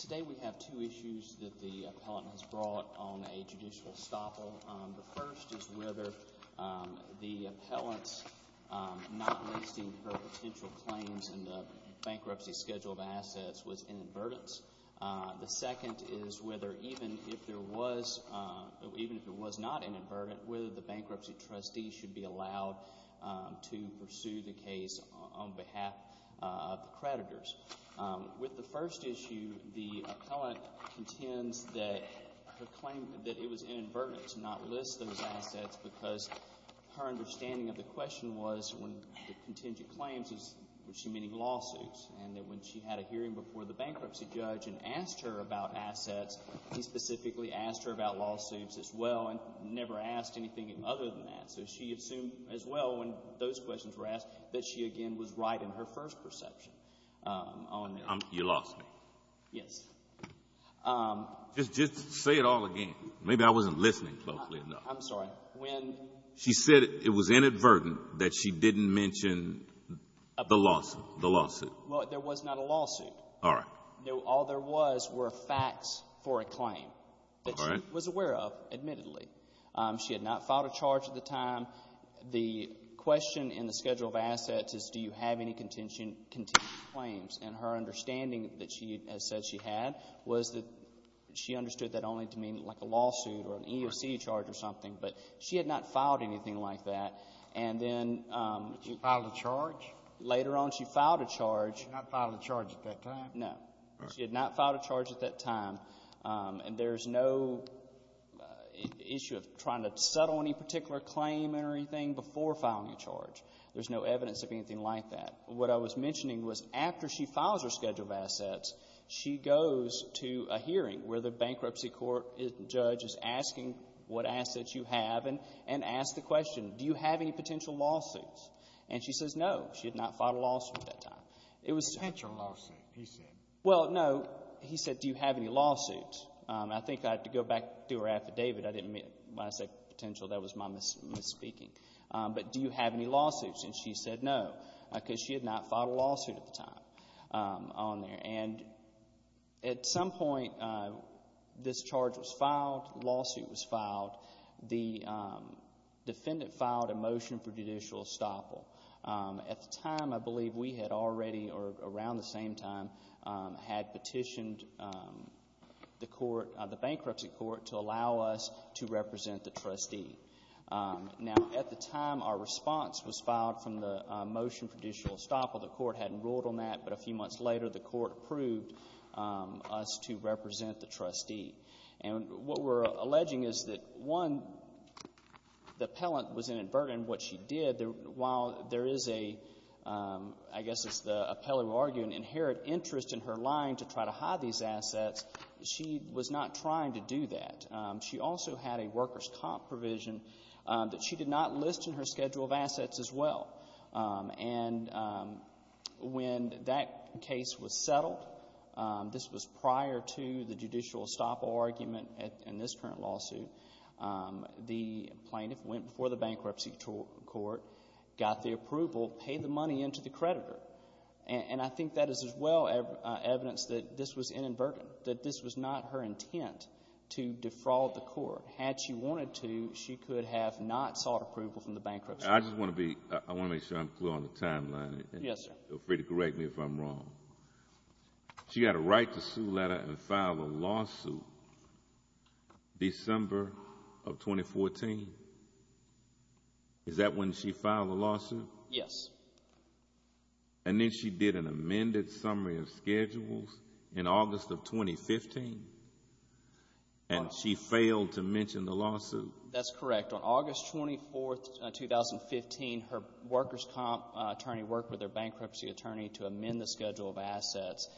Today we have two issues that the appellant has brought on a judicial stoppel. The first is whether the appellant's not listing her potential claims in the bankruptcy schedule of assets was inadvertent. The second is whether even if it was not inadvertent, whether the claimant is not a creditor. With the first issue, the appellant contends that her claim that it was inadvertent to not list those assets because her understanding of the question was when the contingent claims was she meaning lawsuits and that when she had a hearing before the bankruptcy judge and asked her about assets, he specifically asked her about lawsuits as well and never asked anything other than that. So she assumed as well when those questions were asked that she, again, was right in her first perception on the — You lost me. Yes. Just say it all again. Maybe I wasn't listening closely enough. I'm sorry. When — She said it was inadvertent, that she didn't mention the lawsuit. Well, there was not a lawsuit. All right. All there was were facts for a claim that she was aware of, admittedly. She had not filed a charge at the time. The question in the schedule of assets is do you have any contingent claims? And her understanding that she has said she had was that she understood that only to mean like a lawsuit or an EEOC charge or something, but she had not filed anything like that. And then — She filed a charge? Later on, she filed a charge. She had not filed a charge at that time? And there's no issue of trying to settle any particular claim or anything before filing a charge. There's no evidence of anything like that. What I was mentioning was after she files her schedule of assets, she goes to a hearing where the bankruptcy court judge is asking what assets you have and asks the question, do you have any potential lawsuits? And she says no. She had not filed a lawsuit at that time. It was — Potential lawsuit, he said. Well, no. He said, do you have any lawsuits? I think I have to go back to her affidavit. I didn't mean to say potential. That was my misspeaking. But do you have any lawsuits? And she said no, because she had not filed a lawsuit at the time on there. And at some point, this charge was filed. The lawsuit was filed. The defendant filed a motion for additional estoppel. The court hadn't ruled on that. But a few months later, the court approved us to represent the trustee. And what we're alleging is that, one, the appellant was inadvertent in what she did. While there is a — I guess it's the appellant who can inherit interest in her line to try to hide these assets, she was not trying to do that. She also had a workers' comp provision that she did not list in her schedule of assets as well. And when that case was settled — this was prior to the judicial estoppel argument in this current lawsuit — the plaintiff went before the bankruptcy court, got the approval, paid the money into the creditor. And I think that is as well evidence that this was inadvertent, that this was not her intent to defraud the court. Had she wanted to, she could have not sought approval from the bankruptcy court. I just want to be — I want to make sure I'm clear on the timeline. Yes, sir. Feel free to correct me if I'm wrong. She had a right to sue letter and file a lawsuit December of 2014. Is that when she filed the lawsuit? Yes. And then she did an amended summary of schedules in August of 2015? And she failed to mention the lawsuit? That's correct. On August 24, 2015, her workers' comp attorney worked with her bankruptcy attorney to amend the schedule of assets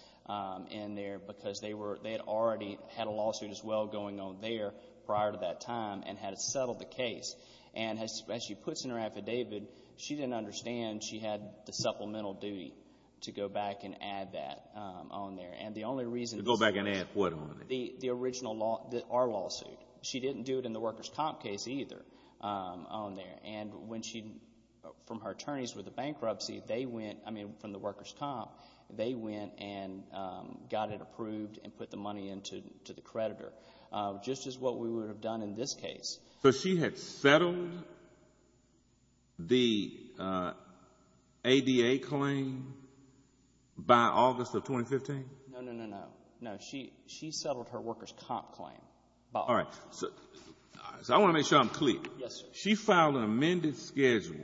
in there because they had already had a lawsuit as well going on there prior to that time and had settled the case. And as she puts in her affidavit, she didn't understand she had the supplemental duty to go back and add that on there. And the only reason — To go back and add what on there? The original law — our lawsuit. She didn't do it in the workers' comp case either on her own. And she — from her attorneys with the bankruptcy, they went — I mean, from the workers' comp, they went and got it approved and put the money into the creditor, just as what we would have done in this case. So she had settled the ADA claim by August of 2015? No, no, no, no. No. She settled her workers' comp claim. All right. So I want to make sure I'm clear. Yes, sir. She filed an amended schedule,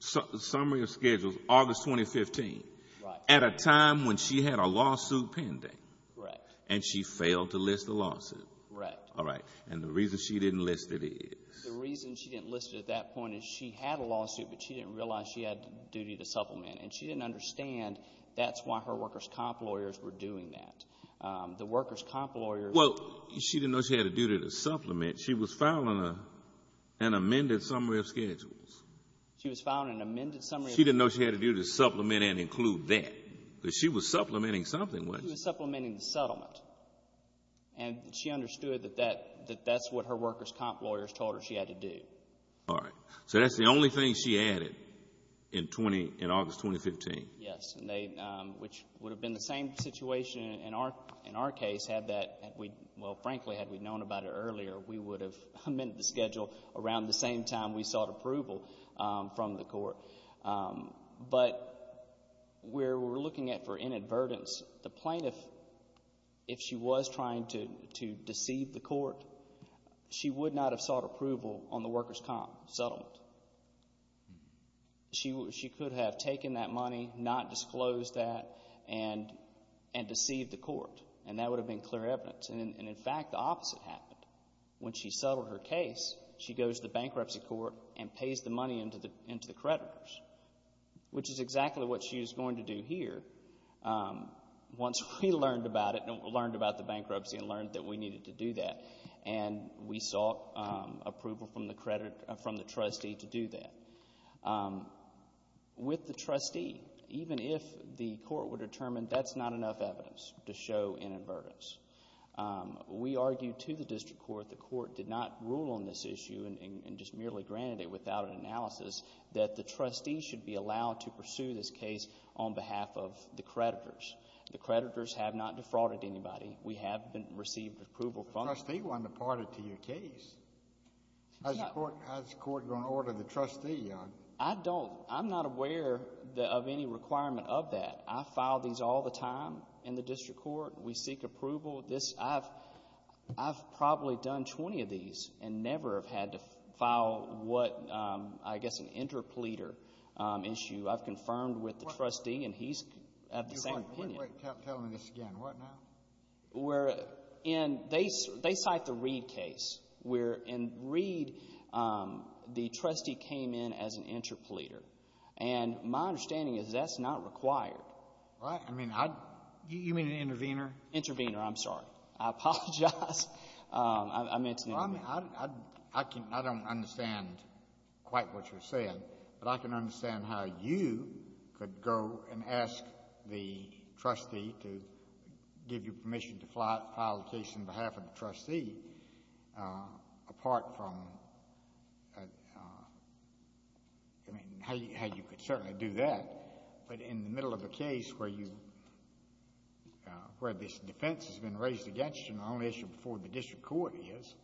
summary of schedules, August 2015 — Right. — at a time when she had a lawsuit pending. Correct. And she failed to list the lawsuit. Correct. All right. And the reason she didn't list it is — The reason she didn't list it at that point is she had a lawsuit, but she didn't realize she had a duty to supplement. And she didn't understand that's why her workers' comp lawyers were doing that. The workers' comp lawyers — Well, she didn't know she had a duty to supplement. She was filing an amended summary of schedules. She was filing an amended summary of schedules. She didn't know she had a duty to supplement and include that, because she was supplementing something, wasn't she? She was supplementing the settlement. And she understood that that's what her workers' comp lawyers told her she had to do. All right. So that's the only thing she added in August 2015? Yes. And they — which would have been the same situation in our case had that — well, frankly, had we known about it earlier, we would have amended the schedule around the same time we sought approval from the court. But where we're looking at for inadvertence, the plaintiff, if she was trying to deceive the court, she would not have sought approval on the workers' comp settlement. She could have taken that money, not disclosed that, and deceived the court. And that would have been clear evidence. And, in fact, the opposite happened. When she settled her case, she goes to the bankruptcy court and pays the money into the creditors, which is exactly what she was going to do here once we learned about it, learned about the bankruptcy, and learned that we needed to do that. And we sought approval from the credit — from the trustee to do that. With the trustee, even if the court were determined that's not enough evidence to show inadvertence, we argued to the district court. The court did not rule on this issue and just merely granted it without an analysis that the trustee should be allowed to pursue this case on behalf of the creditors. The creditors have not defrauded anybody. We have received approval from them. The trustee won the party to your case. No. How's the court going to order the trustee on it? I don't — I'm not aware of any requirement of that. I file these all the time in the district court. We seek approval. This — I've probably done 20 of these and never have had to file what, I guess, an interpleader issue. I've confirmed with the trustee, and he's at the same opinion. Wait, wait, wait. Tell me this again. What now? We're in — they cite the Reid case, where in Reid, the trustee came in as an interpleader. And my understanding is that's not required. I mean, I — You mean an intervener? Intervener. I'm sorry. I apologize. I meant — I don't understand quite what you're saying, but I can understand how you could go and ask the trustee to give you permission to file a case on behalf of the trustee, apart from — I mean, how you could certainly do that. But in the middle of a case where you — where this defense has been raised against you, and the only issue before the district court is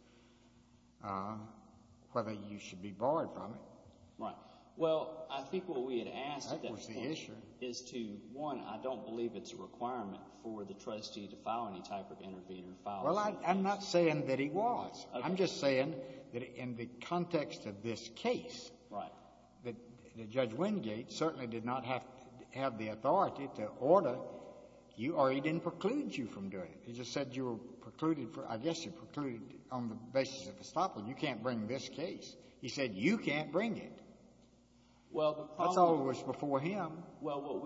whether you should be barred from it. Right. Well, I think what we had asked at that point — That was the issue. — is to, one, I don't believe it's a requirement for the trustee to file any type of intervener file. Well, I'm not saying that he was. Okay. I'm just saying that in the context of this case — Right. — that Judge Wingate certainly did not have the authority to order you, or he didn't preclude you from doing it. He just said you were precluded for — I guess you were precluded on the basis of estoppel. You can't bring this case. He said you can't bring it. Well, the problem — That's all that was before him. Well, what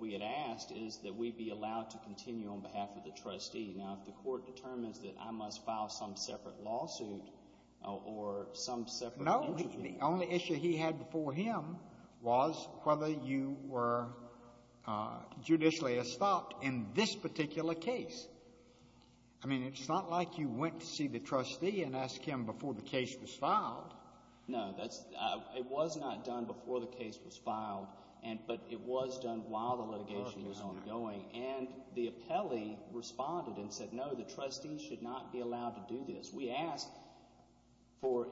we had asked is that we be allowed to continue on behalf of the trustee. Now, if the Court determines that I must file some separate lawsuit or some separate — No. The only issue he had before him was whether you were judicially estopped in this particular case. I mean, it's not like you went to see the trustee and asked him before the case was filed. No. It was not done before the case was filed, but it was done while the litigation was ongoing. And the appellee responded and said, no, the trustee should not be allowed to do this. We asked for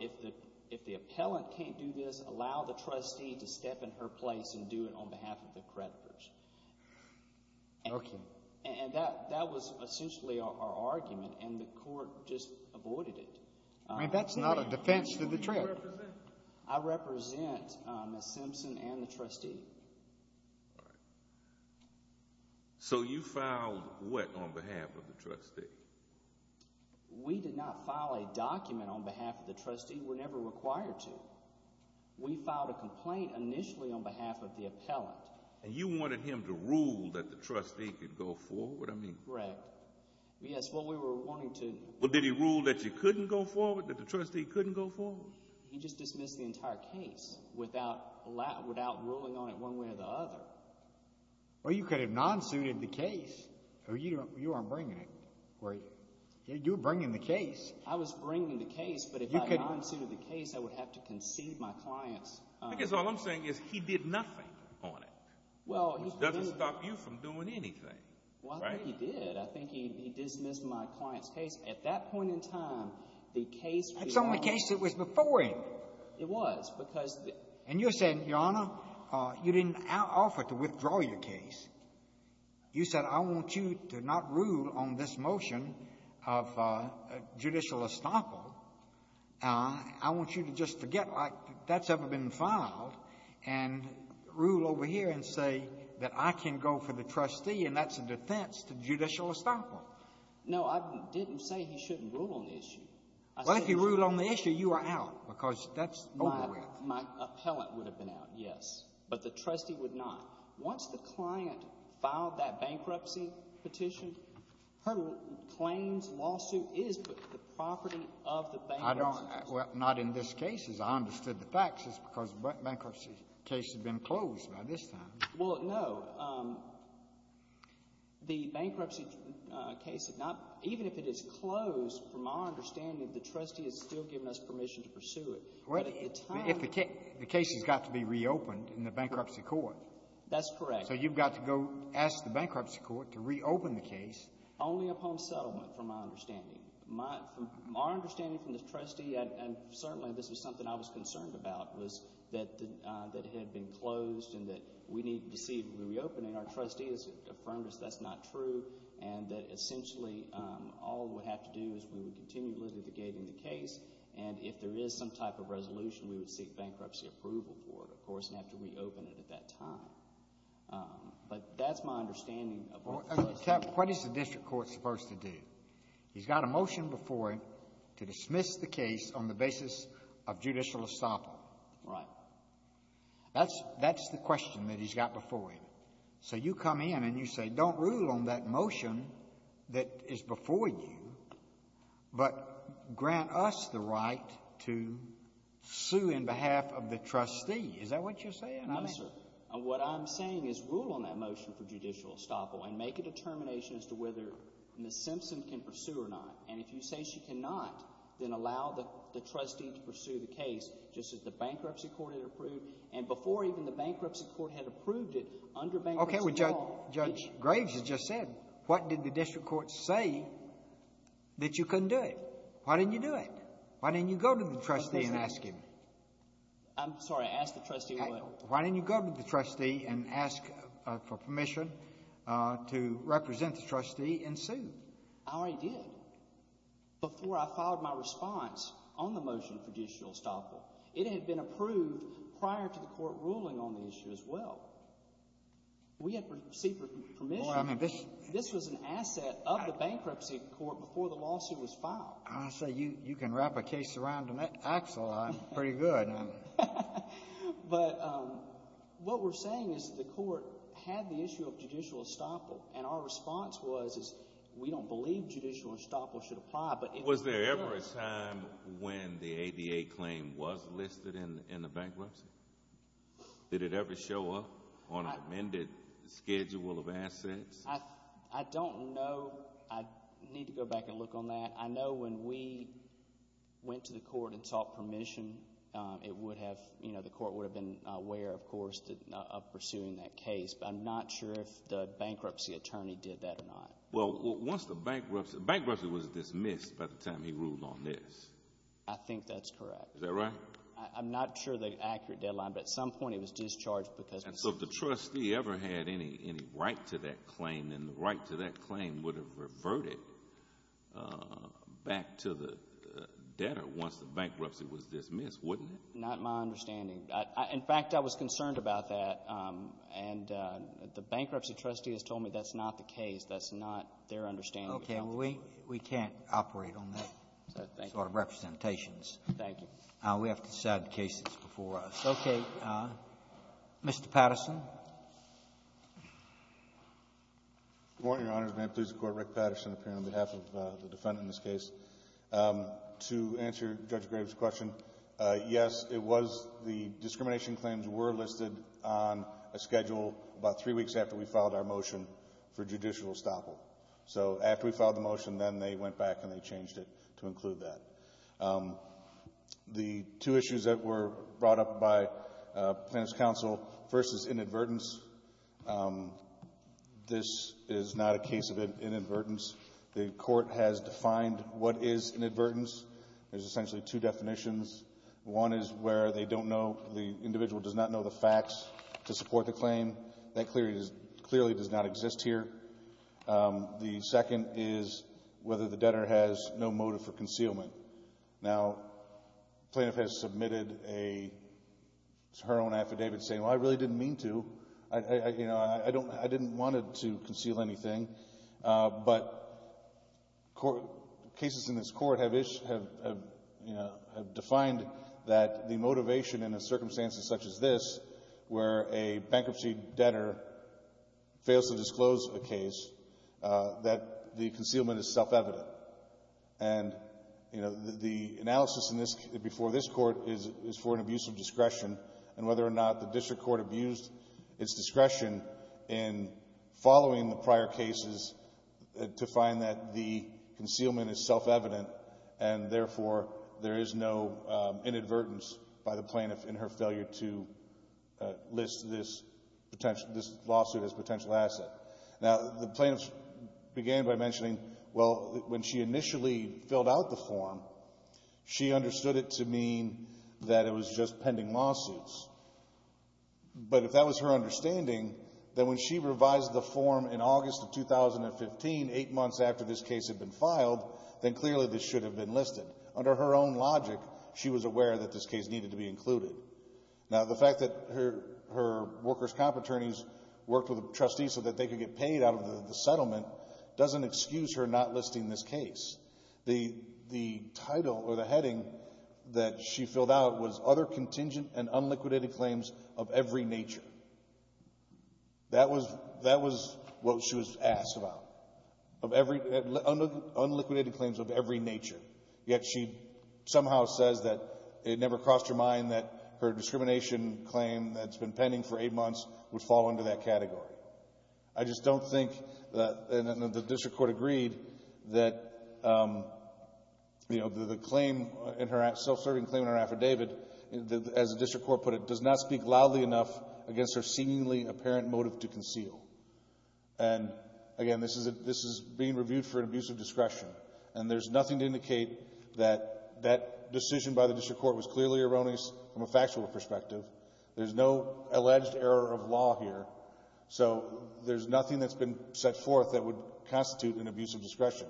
if the appellant can't do this, allow the trustee to step in her place and do it on behalf of the creditors. Okay. And that was essentially our argument, and the Court just avoided it. I mean, that's not a defense to the trial. Who do you represent? I represent Ms. Simpson and the trustee. All right. So you filed what on behalf of the trustee? We did not file a document on behalf of the trustee. We're never required to. We filed a complaint initially on behalf of the appellant. And you wanted him to rule that the trustee could go forward? What do I mean? Correct. Yes, well, we were wanting to. Well, did he rule that you couldn't go forward, that the trustee couldn't go forward? He just dismissed the entire case without ruling on it one way or the other. Well, you could have non-suited the case. You weren't bringing it. You were bringing the case. I was bringing the case, but if I non-suited the case, I would have to concede my clients. Because all I'm saying is he did nothing on it. Which doesn't stop you from doing anything. Well, I think he did. I think he dismissed my client's case. At that point in time, the case was... That's the only case that was before him. It was, because... And you said, Your Honor, you didn't offer to withdraw your case. You said, I want you to not rule on this motion of judicial estoppel. I want you to just forget that that's ever been filed and rule over here and say that I can go for the trustee, and that's a defense to judicial estoppel. No, I didn't say he shouldn't rule on the issue. Well, if he ruled on the issue, you are out, because that's over with. My appellant would have been out, yes. But the trustee would not. Once the client filed that bankruptcy petition, her claims lawsuit is the property of the bankruptcy... I don't... Well, not in this case. As I understood the facts, it's because the bankruptcy case had been closed by this time. Well, no. The bankruptcy case had not... Even if it is closed, from our understanding, the trustee has still given us permission to pursue it. But at the time... If the case has got to be reopened in the bankruptcy court... That's correct. So you've got to go ask the bankruptcy court to reopen the case. Only upon settlement, from my understanding. Our understanding from the trustee, and certainly this is something I was concerned about, was that it had been closed and that we need to see it reopened. And our trustee has affirmed us that's not true and that essentially all we would have to do is we would continue litigating the case. And if there is some type of resolution, we would seek bankruptcy approval for it, of course, and have to reopen it at that time. But that's my understanding. What is the district court supposed to do? He's got a motion before him to dismiss the case on the basis of judicial estoppel. Right. That's the question that he's got before him. So you come in and you say don't rule on that motion that is before you, but grant us the right to sue in behalf of the trustee. Is that what you're saying? No, sir. What I'm saying is rule on that motion for judicial estoppel and make a determination as to whether Ms. Simpson can pursue or not. And if you say she cannot, then allow the trustee to pursue the case just as the bankruptcy court had approved and before even the bankruptcy court had approved it under bankruptcy law. Okay. Judge Graves has just said what did the district court say that you couldn't do it? Why didn't you do it? Why didn't you go to the trustee and ask him? I'm sorry. Ask the trustee what? Why didn't you go to the trustee and ask for permission to represent the trustee and sue? I already did before I filed my response on the motion for judicial estoppel. It had been approved prior to the court ruling on the issue as well. We had received permission. This was an asset of the bankruptcy court before the lawsuit was filed. I say you can wrap a case around an axle. I'm pretty good. But what we're saying is the court had the issue of judicial estoppel, and our response was we don't believe judicial estoppel should apply. Was there ever a time when the ADA claim was listed in the bankruptcy? Did it ever show up on an amended schedule of assets? I don't know. I need to go back and look on that. I know when we went to the court and sought permission, it would have, you know, the court would have been aware, of course, of pursuing that case. But I'm not sure if the bankruptcy attorney did that or not. Well, once the bankruptcy, bankruptcy was dismissed by the time he ruled on this. I think that's correct. Is that right? I'm not sure the accurate deadline, but at some point it was discharged because it was dismissed. So if the trustee ever had any right to that claim, then the right to that claim would have reverted back to the debtor once the bankruptcy was dismissed, wouldn't it? Not my understanding. In fact, I was concerned about that, and the bankruptcy trustee has told me that's not the case. That's not their understanding. Okay. Well, we can't operate on that sort of representations. Thank you. We have to decide the cases before us. Okay. Mr. Patterson. Good morning, Your Honors. May it please the Court. Rick Patterson appearing on behalf of the defendant in this case. To answer Judge Graves' question, yes, it was the discrimination claims were listed on a schedule about three weeks after we filed our motion for judicial estoppel. So after we filed the motion, then they went back and they changed it to include that. The two issues that were brought up by Plaintiff's Counsel, first is inadvertence. This is not a case of inadvertence. The Court has defined what is inadvertence. There's essentially two definitions. One is where they don't know, the individual does not know the facts to support the claim. That clearly does not exist here. The second is whether the debtor has no motive for concealment. Now, Plaintiff has submitted her own affidavit saying, well, I really didn't mean to. I didn't want to conceal anything. But cases in this Court have defined that the motivation in a circumstance such as this, where a bankruptcy debtor fails to disclose a case, that the concealment is self-evident. And the analysis before this Court is for an abuse of discretion and whether or not the District Court abused its discretion in following the prior cases to find that the concealment is self-evident and, therefore, there is no inadvertence by the Plaintiff in her failure to list this lawsuit as a potential asset. Now, the Plaintiff began by mentioning, well, when she initially filled out the form, she understood it to mean that it was just pending lawsuits. But if that was her understanding, then when she revised the form in August of 2015, eight months after this case had been filed, then clearly this should have been listed. Under her own logic, she was aware that this case needed to be included. Now, the fact that her workers' comp attorneys worked with a trustee so that they could get paid out of the settlement doesn't excuse her not listing this case. The title or the heading that she filled out was, Other contingent and unliquidated claims of every nature. That was what she was asked about, unliquidated claims of every nature. Yet she somehow says that it never crossed her mind that her discrimination claim that's been pending for eight months would fall under that category. I just don't think that the District Court agreed that the claim in her self-serving claim in her affidavit, as the District Court put it, does not speak loudly enough against her seemingly apparent motive to conceal. And, again, this is being reviewed for an abuse of discretion. And there's nothing to indicate that that decision by the District Court was clearly erroneous from a factual perspective. There's no alleged error of law here. So there's nothing that's been set forth that would constitute an abuse of discretion.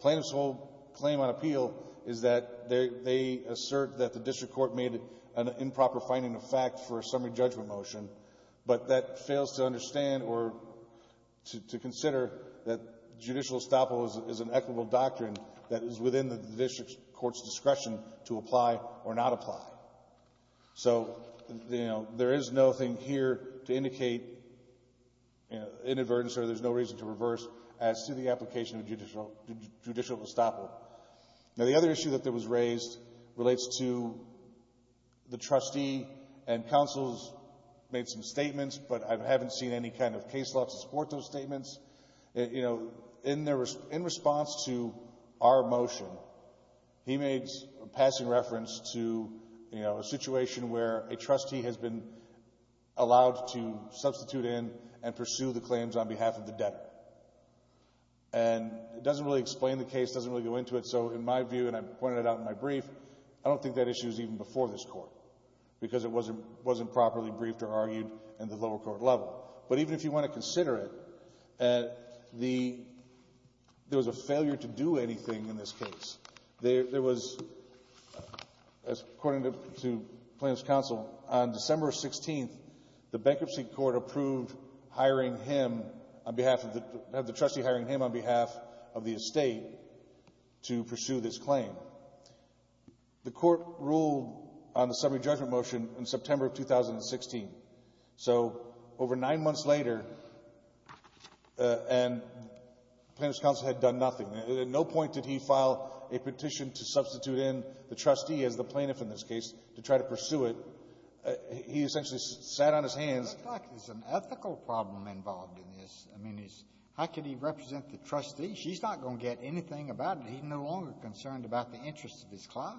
Plaintiff's whole claim on appeal is that they assert that the District Court made an improper finding of fact for a summary judgment motion, but that fails to understand or to consider that judicial estoppel is an equitable doctrine that is within the District Court's discretion to apply or not apply. So, you know, there is nothing here to indicate inadvertence or there's no reason to reverse as to the application of judicial estoppel. Now, the other issue that was raised relates to the trustee and counsel's made some statements, but I haven't seen any kind of case law to support those statements. You know, in response to our motion, he made a passing reference to, you know, a situation where a trustee has been allowed to substitute in and pursue the claims on behalf of the debtor. And it doesn't really explain the case, doesn't really go into it. So in my view, and I pointed it out in my brief, I don't think that issue is even before this Court because it wasn't properly briefed or argued in the lower court level. But even if you want to consider it, there was a failure to do anything in this case. There was, according to plaintiff's counsel, on December 16th, the bankruptcy court approved hiring him on behalf of the trustee, hiring him on behalf of the estate to pursue this claim. The court ruled on the summary judgment motion in September of 2016. So over nine months later, and plaintiff's counsel had done nothing. At no point did he file a petition to substitute in the trustee as the plaintiff in this case to try to pursue it. He essentially sat on his hands. It looks like there's an ethical problem involved in this. I mean, how can he represent the trustee? He's not going to get anything about it. He's no longer concerned about the interests of his client.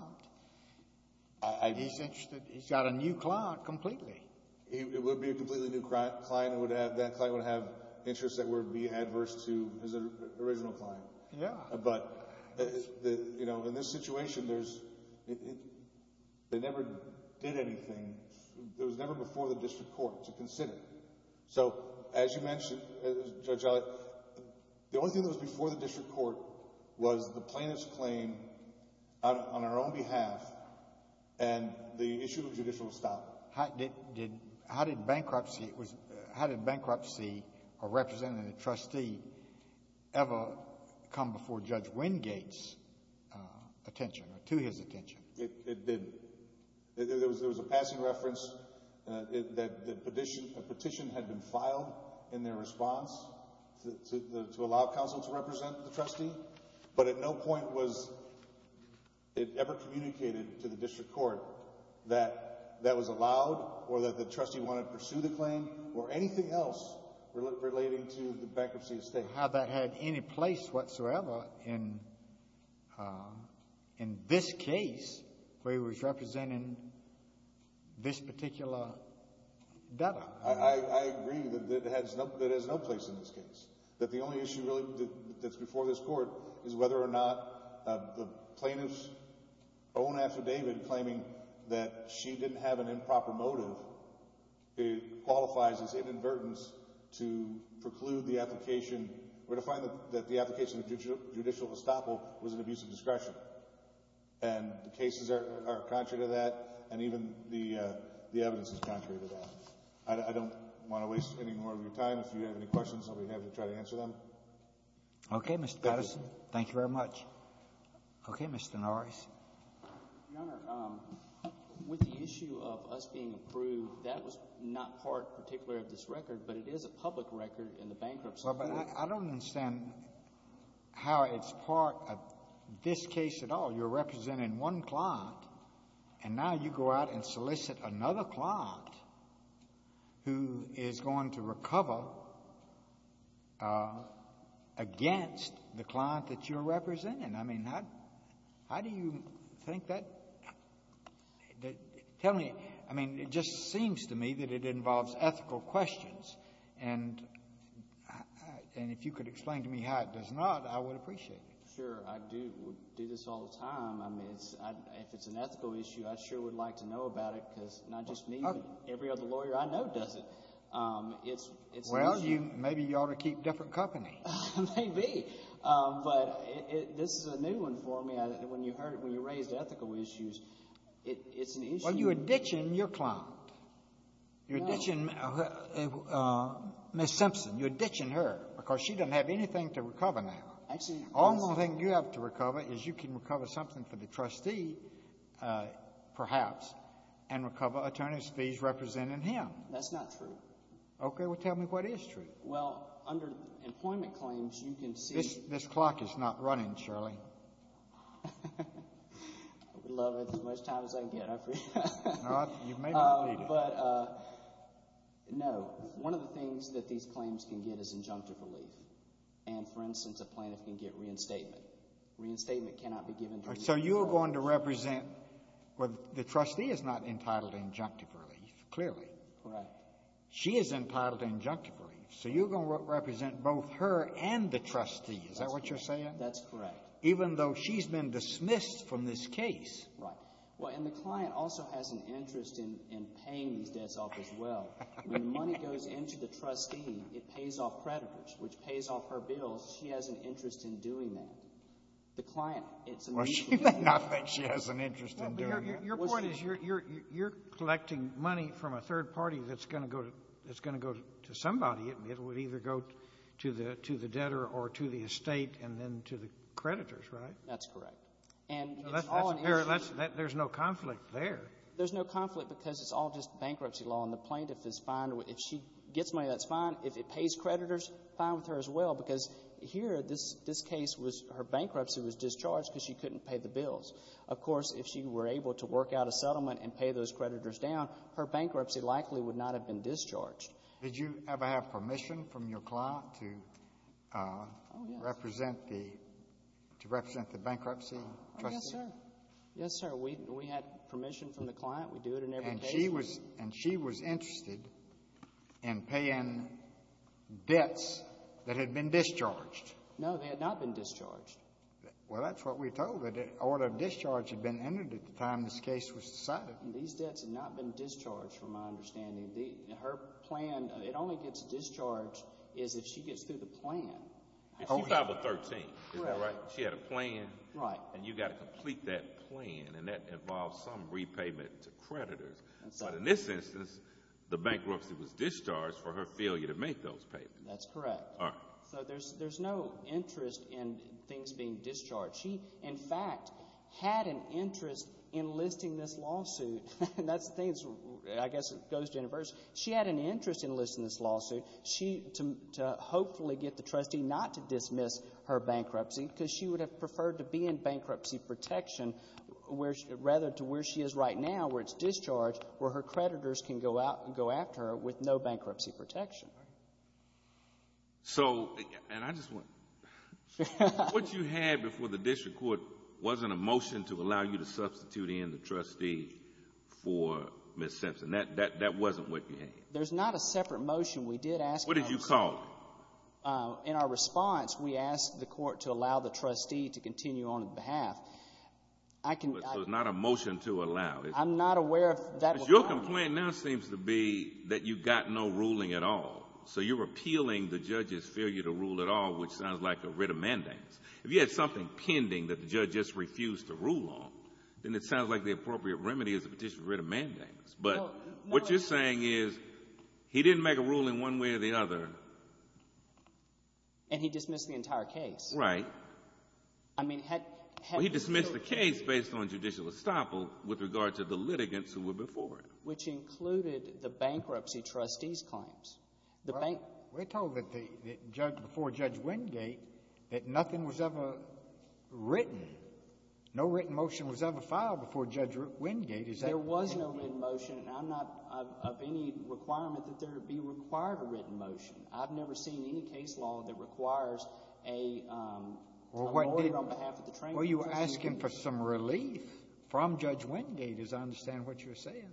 He's interested. He's got a new client completely. It would be a completely new client. That client would have interests that would be adverse to his original client. Yeah. But in this situation, they never did anything. It was never before the district court to consider. So, as you mentioned, Judge Elliott, the only thing that was before the district court was the plaintiff's claim on our own behalf and the issue of judicial style. How did bankruptcy or representing the trustee ever come before Judge Wingate's attention or to his attention? It didn't. There was a passing reference that a petition had been filed in their response to allow counsel to represent the trustee. But at no point was it ever communicated to the district court that that was allowed or that the trustee wanted to pursue the claim or anything else relating to the bankruptcy estate. I don't remember how that had any place whatsoever in this case where he was representing this particular debtor. I agree that it has no place in this case, that the only issue really that's before this court is whether or not the plaintiff's own affidavit claiming that she didn't have an improper motive, it qualifies as inadvertence to preclude the application or to find that the application of judicial estoppel was an abuse of discretion. And the cases are contrary to that, and even the evidence is contrary to that. I don't want to waste any more of your time. If you have any questions, I'll be happy to try to answer them. Okay, Mr. Patterson. Thank you very much. Okay, Mr. Norris. Your Honor, with the issue of us being approved, that was not part particularly of this record, but it is a public record in the Bankruptcy Court. Well, but I don't understand how it's part of this case at all. You're representing one client, and now you go out and solicit another client who is going to recover against the client that you're representing. I mean, how do you think that? Tell me. I mean, it just seems to me that it involves ethical questions, and if you could explain to me how it does not, I would appreciate it. Sure. I do this all the time. I mean, if it's an ethical issue, I sure would like to know about it because not just me, but every other lawyer I know does it. Well, maybe you ought to keep different company. Maybe. But this is a new one for me. When you heard it, when you raised ethical issues, it's an issue. Well, you're ditching your client. You're ditching Ms. Simpson. You're ditching her because she doesn't have anything to recover now. Actually, Your Honor. Only thing you have to recover is you can recover something for the trustee, perhaps, and recover attorney's fees representing him. That's not true. Okay. Well, tell me what is true. Well, under employment claims, you can see. This clock is not running, Shirley. I would love it as much time as I can get. I appreciate that. You may not need it. But, no, one of the things that these claims can get is injunctive relief. And, for instance, a plaintiff can get reinstatement. Reinstatement cannot be given to a plaintiff. So you are going to represent, well, the trustee is not entitled to injunctive relief, clearly. Correct. She is entitled to injunctive relief. So you're going to represent both her and the trustee. Is that what you're saying? That's correct. Even though she's been dismissed from this case. Right. Well, and the client also has an interest in paying these debts off as well. When money goes into the trustee, it pays off creditors, which pays off her bills. She has an interest in doing that. The client, it's a mutual debt. Well, she may not think she has an interest in doing that. Your point is you're collecting money from a third party that's going to go to somebody. It would either go to the debtor or to the estate and then to the creditors, right? That's correct. And it's all an issue. There's no conflict there. There's no conflict because it's all just bankruptcy law. And the plaintiff is fine. If she gets money, that's fine. If it pays creditors, fine with her as well, because here this case was her bankruptcy was discharged because she couldn't pay the bills. Of course, if she were able to work out a settlement and pay those creditors down, her bankruptcy likely would not have been discharged. Did you ever have permission from your client to represent the bankruptcy trustee? Yes, sir. Yes, sir. We had permission from the client. We do it in every case. And she was interested in paying debts that had been discharged. No, they had not been discharged. Well, that's what we told her. The order of discharge had been entered at the time this case was decided. These debts had not been discharged from my understanding. Her plan, it only gets discharged is if she gets through the plan. She filed a 13, is that right? Correct. She had a plan. Right. And you've got to complete that plan, and that involves some repayment to creditors. But in this instance, the bankruptcy was discharged for her failure to make those payments. That's correct. All right. So there's no interest in things being discharged. She, in fact, had an interest in enlisting this lawsuit. And that's the thing, I guess it goes to universe. She had an interest in enlisting this lawsuit to hopefully get the trustee not to dismiss her bankruptcy because she would have preferred to be in bankruptcy protection rather to where she is right now, where it's discharged, where her creditors can go after her with no bankruptcy protection. So, and I just want to, what you had before the district court wasn't a motion to allow you to substitute in the trustee for Ms. Simpson. That wasn't what you had. There's not a separate motion. We did ask. What did you call it? In our response, we asked the court to allow the trustee to continue on behalf. So it's not a motion to allow. I'm not aware of that. Your complaint now seems to be that you've got no ruling at all. So you're appealing the judge's failure to rule at all, which sounds like a writ of mandamus. If you had something pending that the judge just refused to rule on, then it sounds like the appropriate remedy is a petition of writ of mandamus. But what you're saying is he didn't make a ruling one way or the other. And he dismissed the entire case. Right. Well, he dismissed the case based on judicial estoppel with regard to the litigants who were before him. Which included the bankruptcy trustees' claims. We're told before Judge Wingate that nothing was ever written, no written motion was ever filed before Judge Wingate. There was no written motion, and I'm not of any requirement that there be required a written motion. I've never seen any case law that requires a lawyer on behalf of the trustee. Well, you're asking for some relief from Judge Wingate, as I understand what you're saying.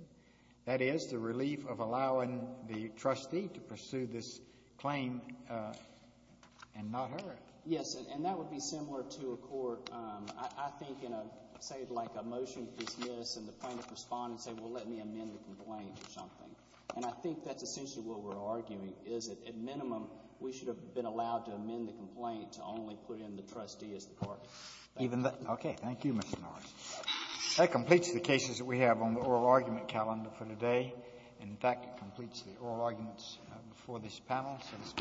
That is, the relief of allowing the trustee to pursue this claim and not her. Yes, and that would be similar to a court, I think, in a, say, like a motion for dismiss and the plaintiff respond and say, well, let me amend the complaint or something. And I think that's essentially what we're arguing is that, at minimum, we should have been allowed to amend the complaint to only put in the trustee as the court. Okay. Thank you, Mr. Norris. That completes the cases that we have on the oral argument calendar for today. In fact, it completes the oral arguments before this panel. So this panel stands adjourned.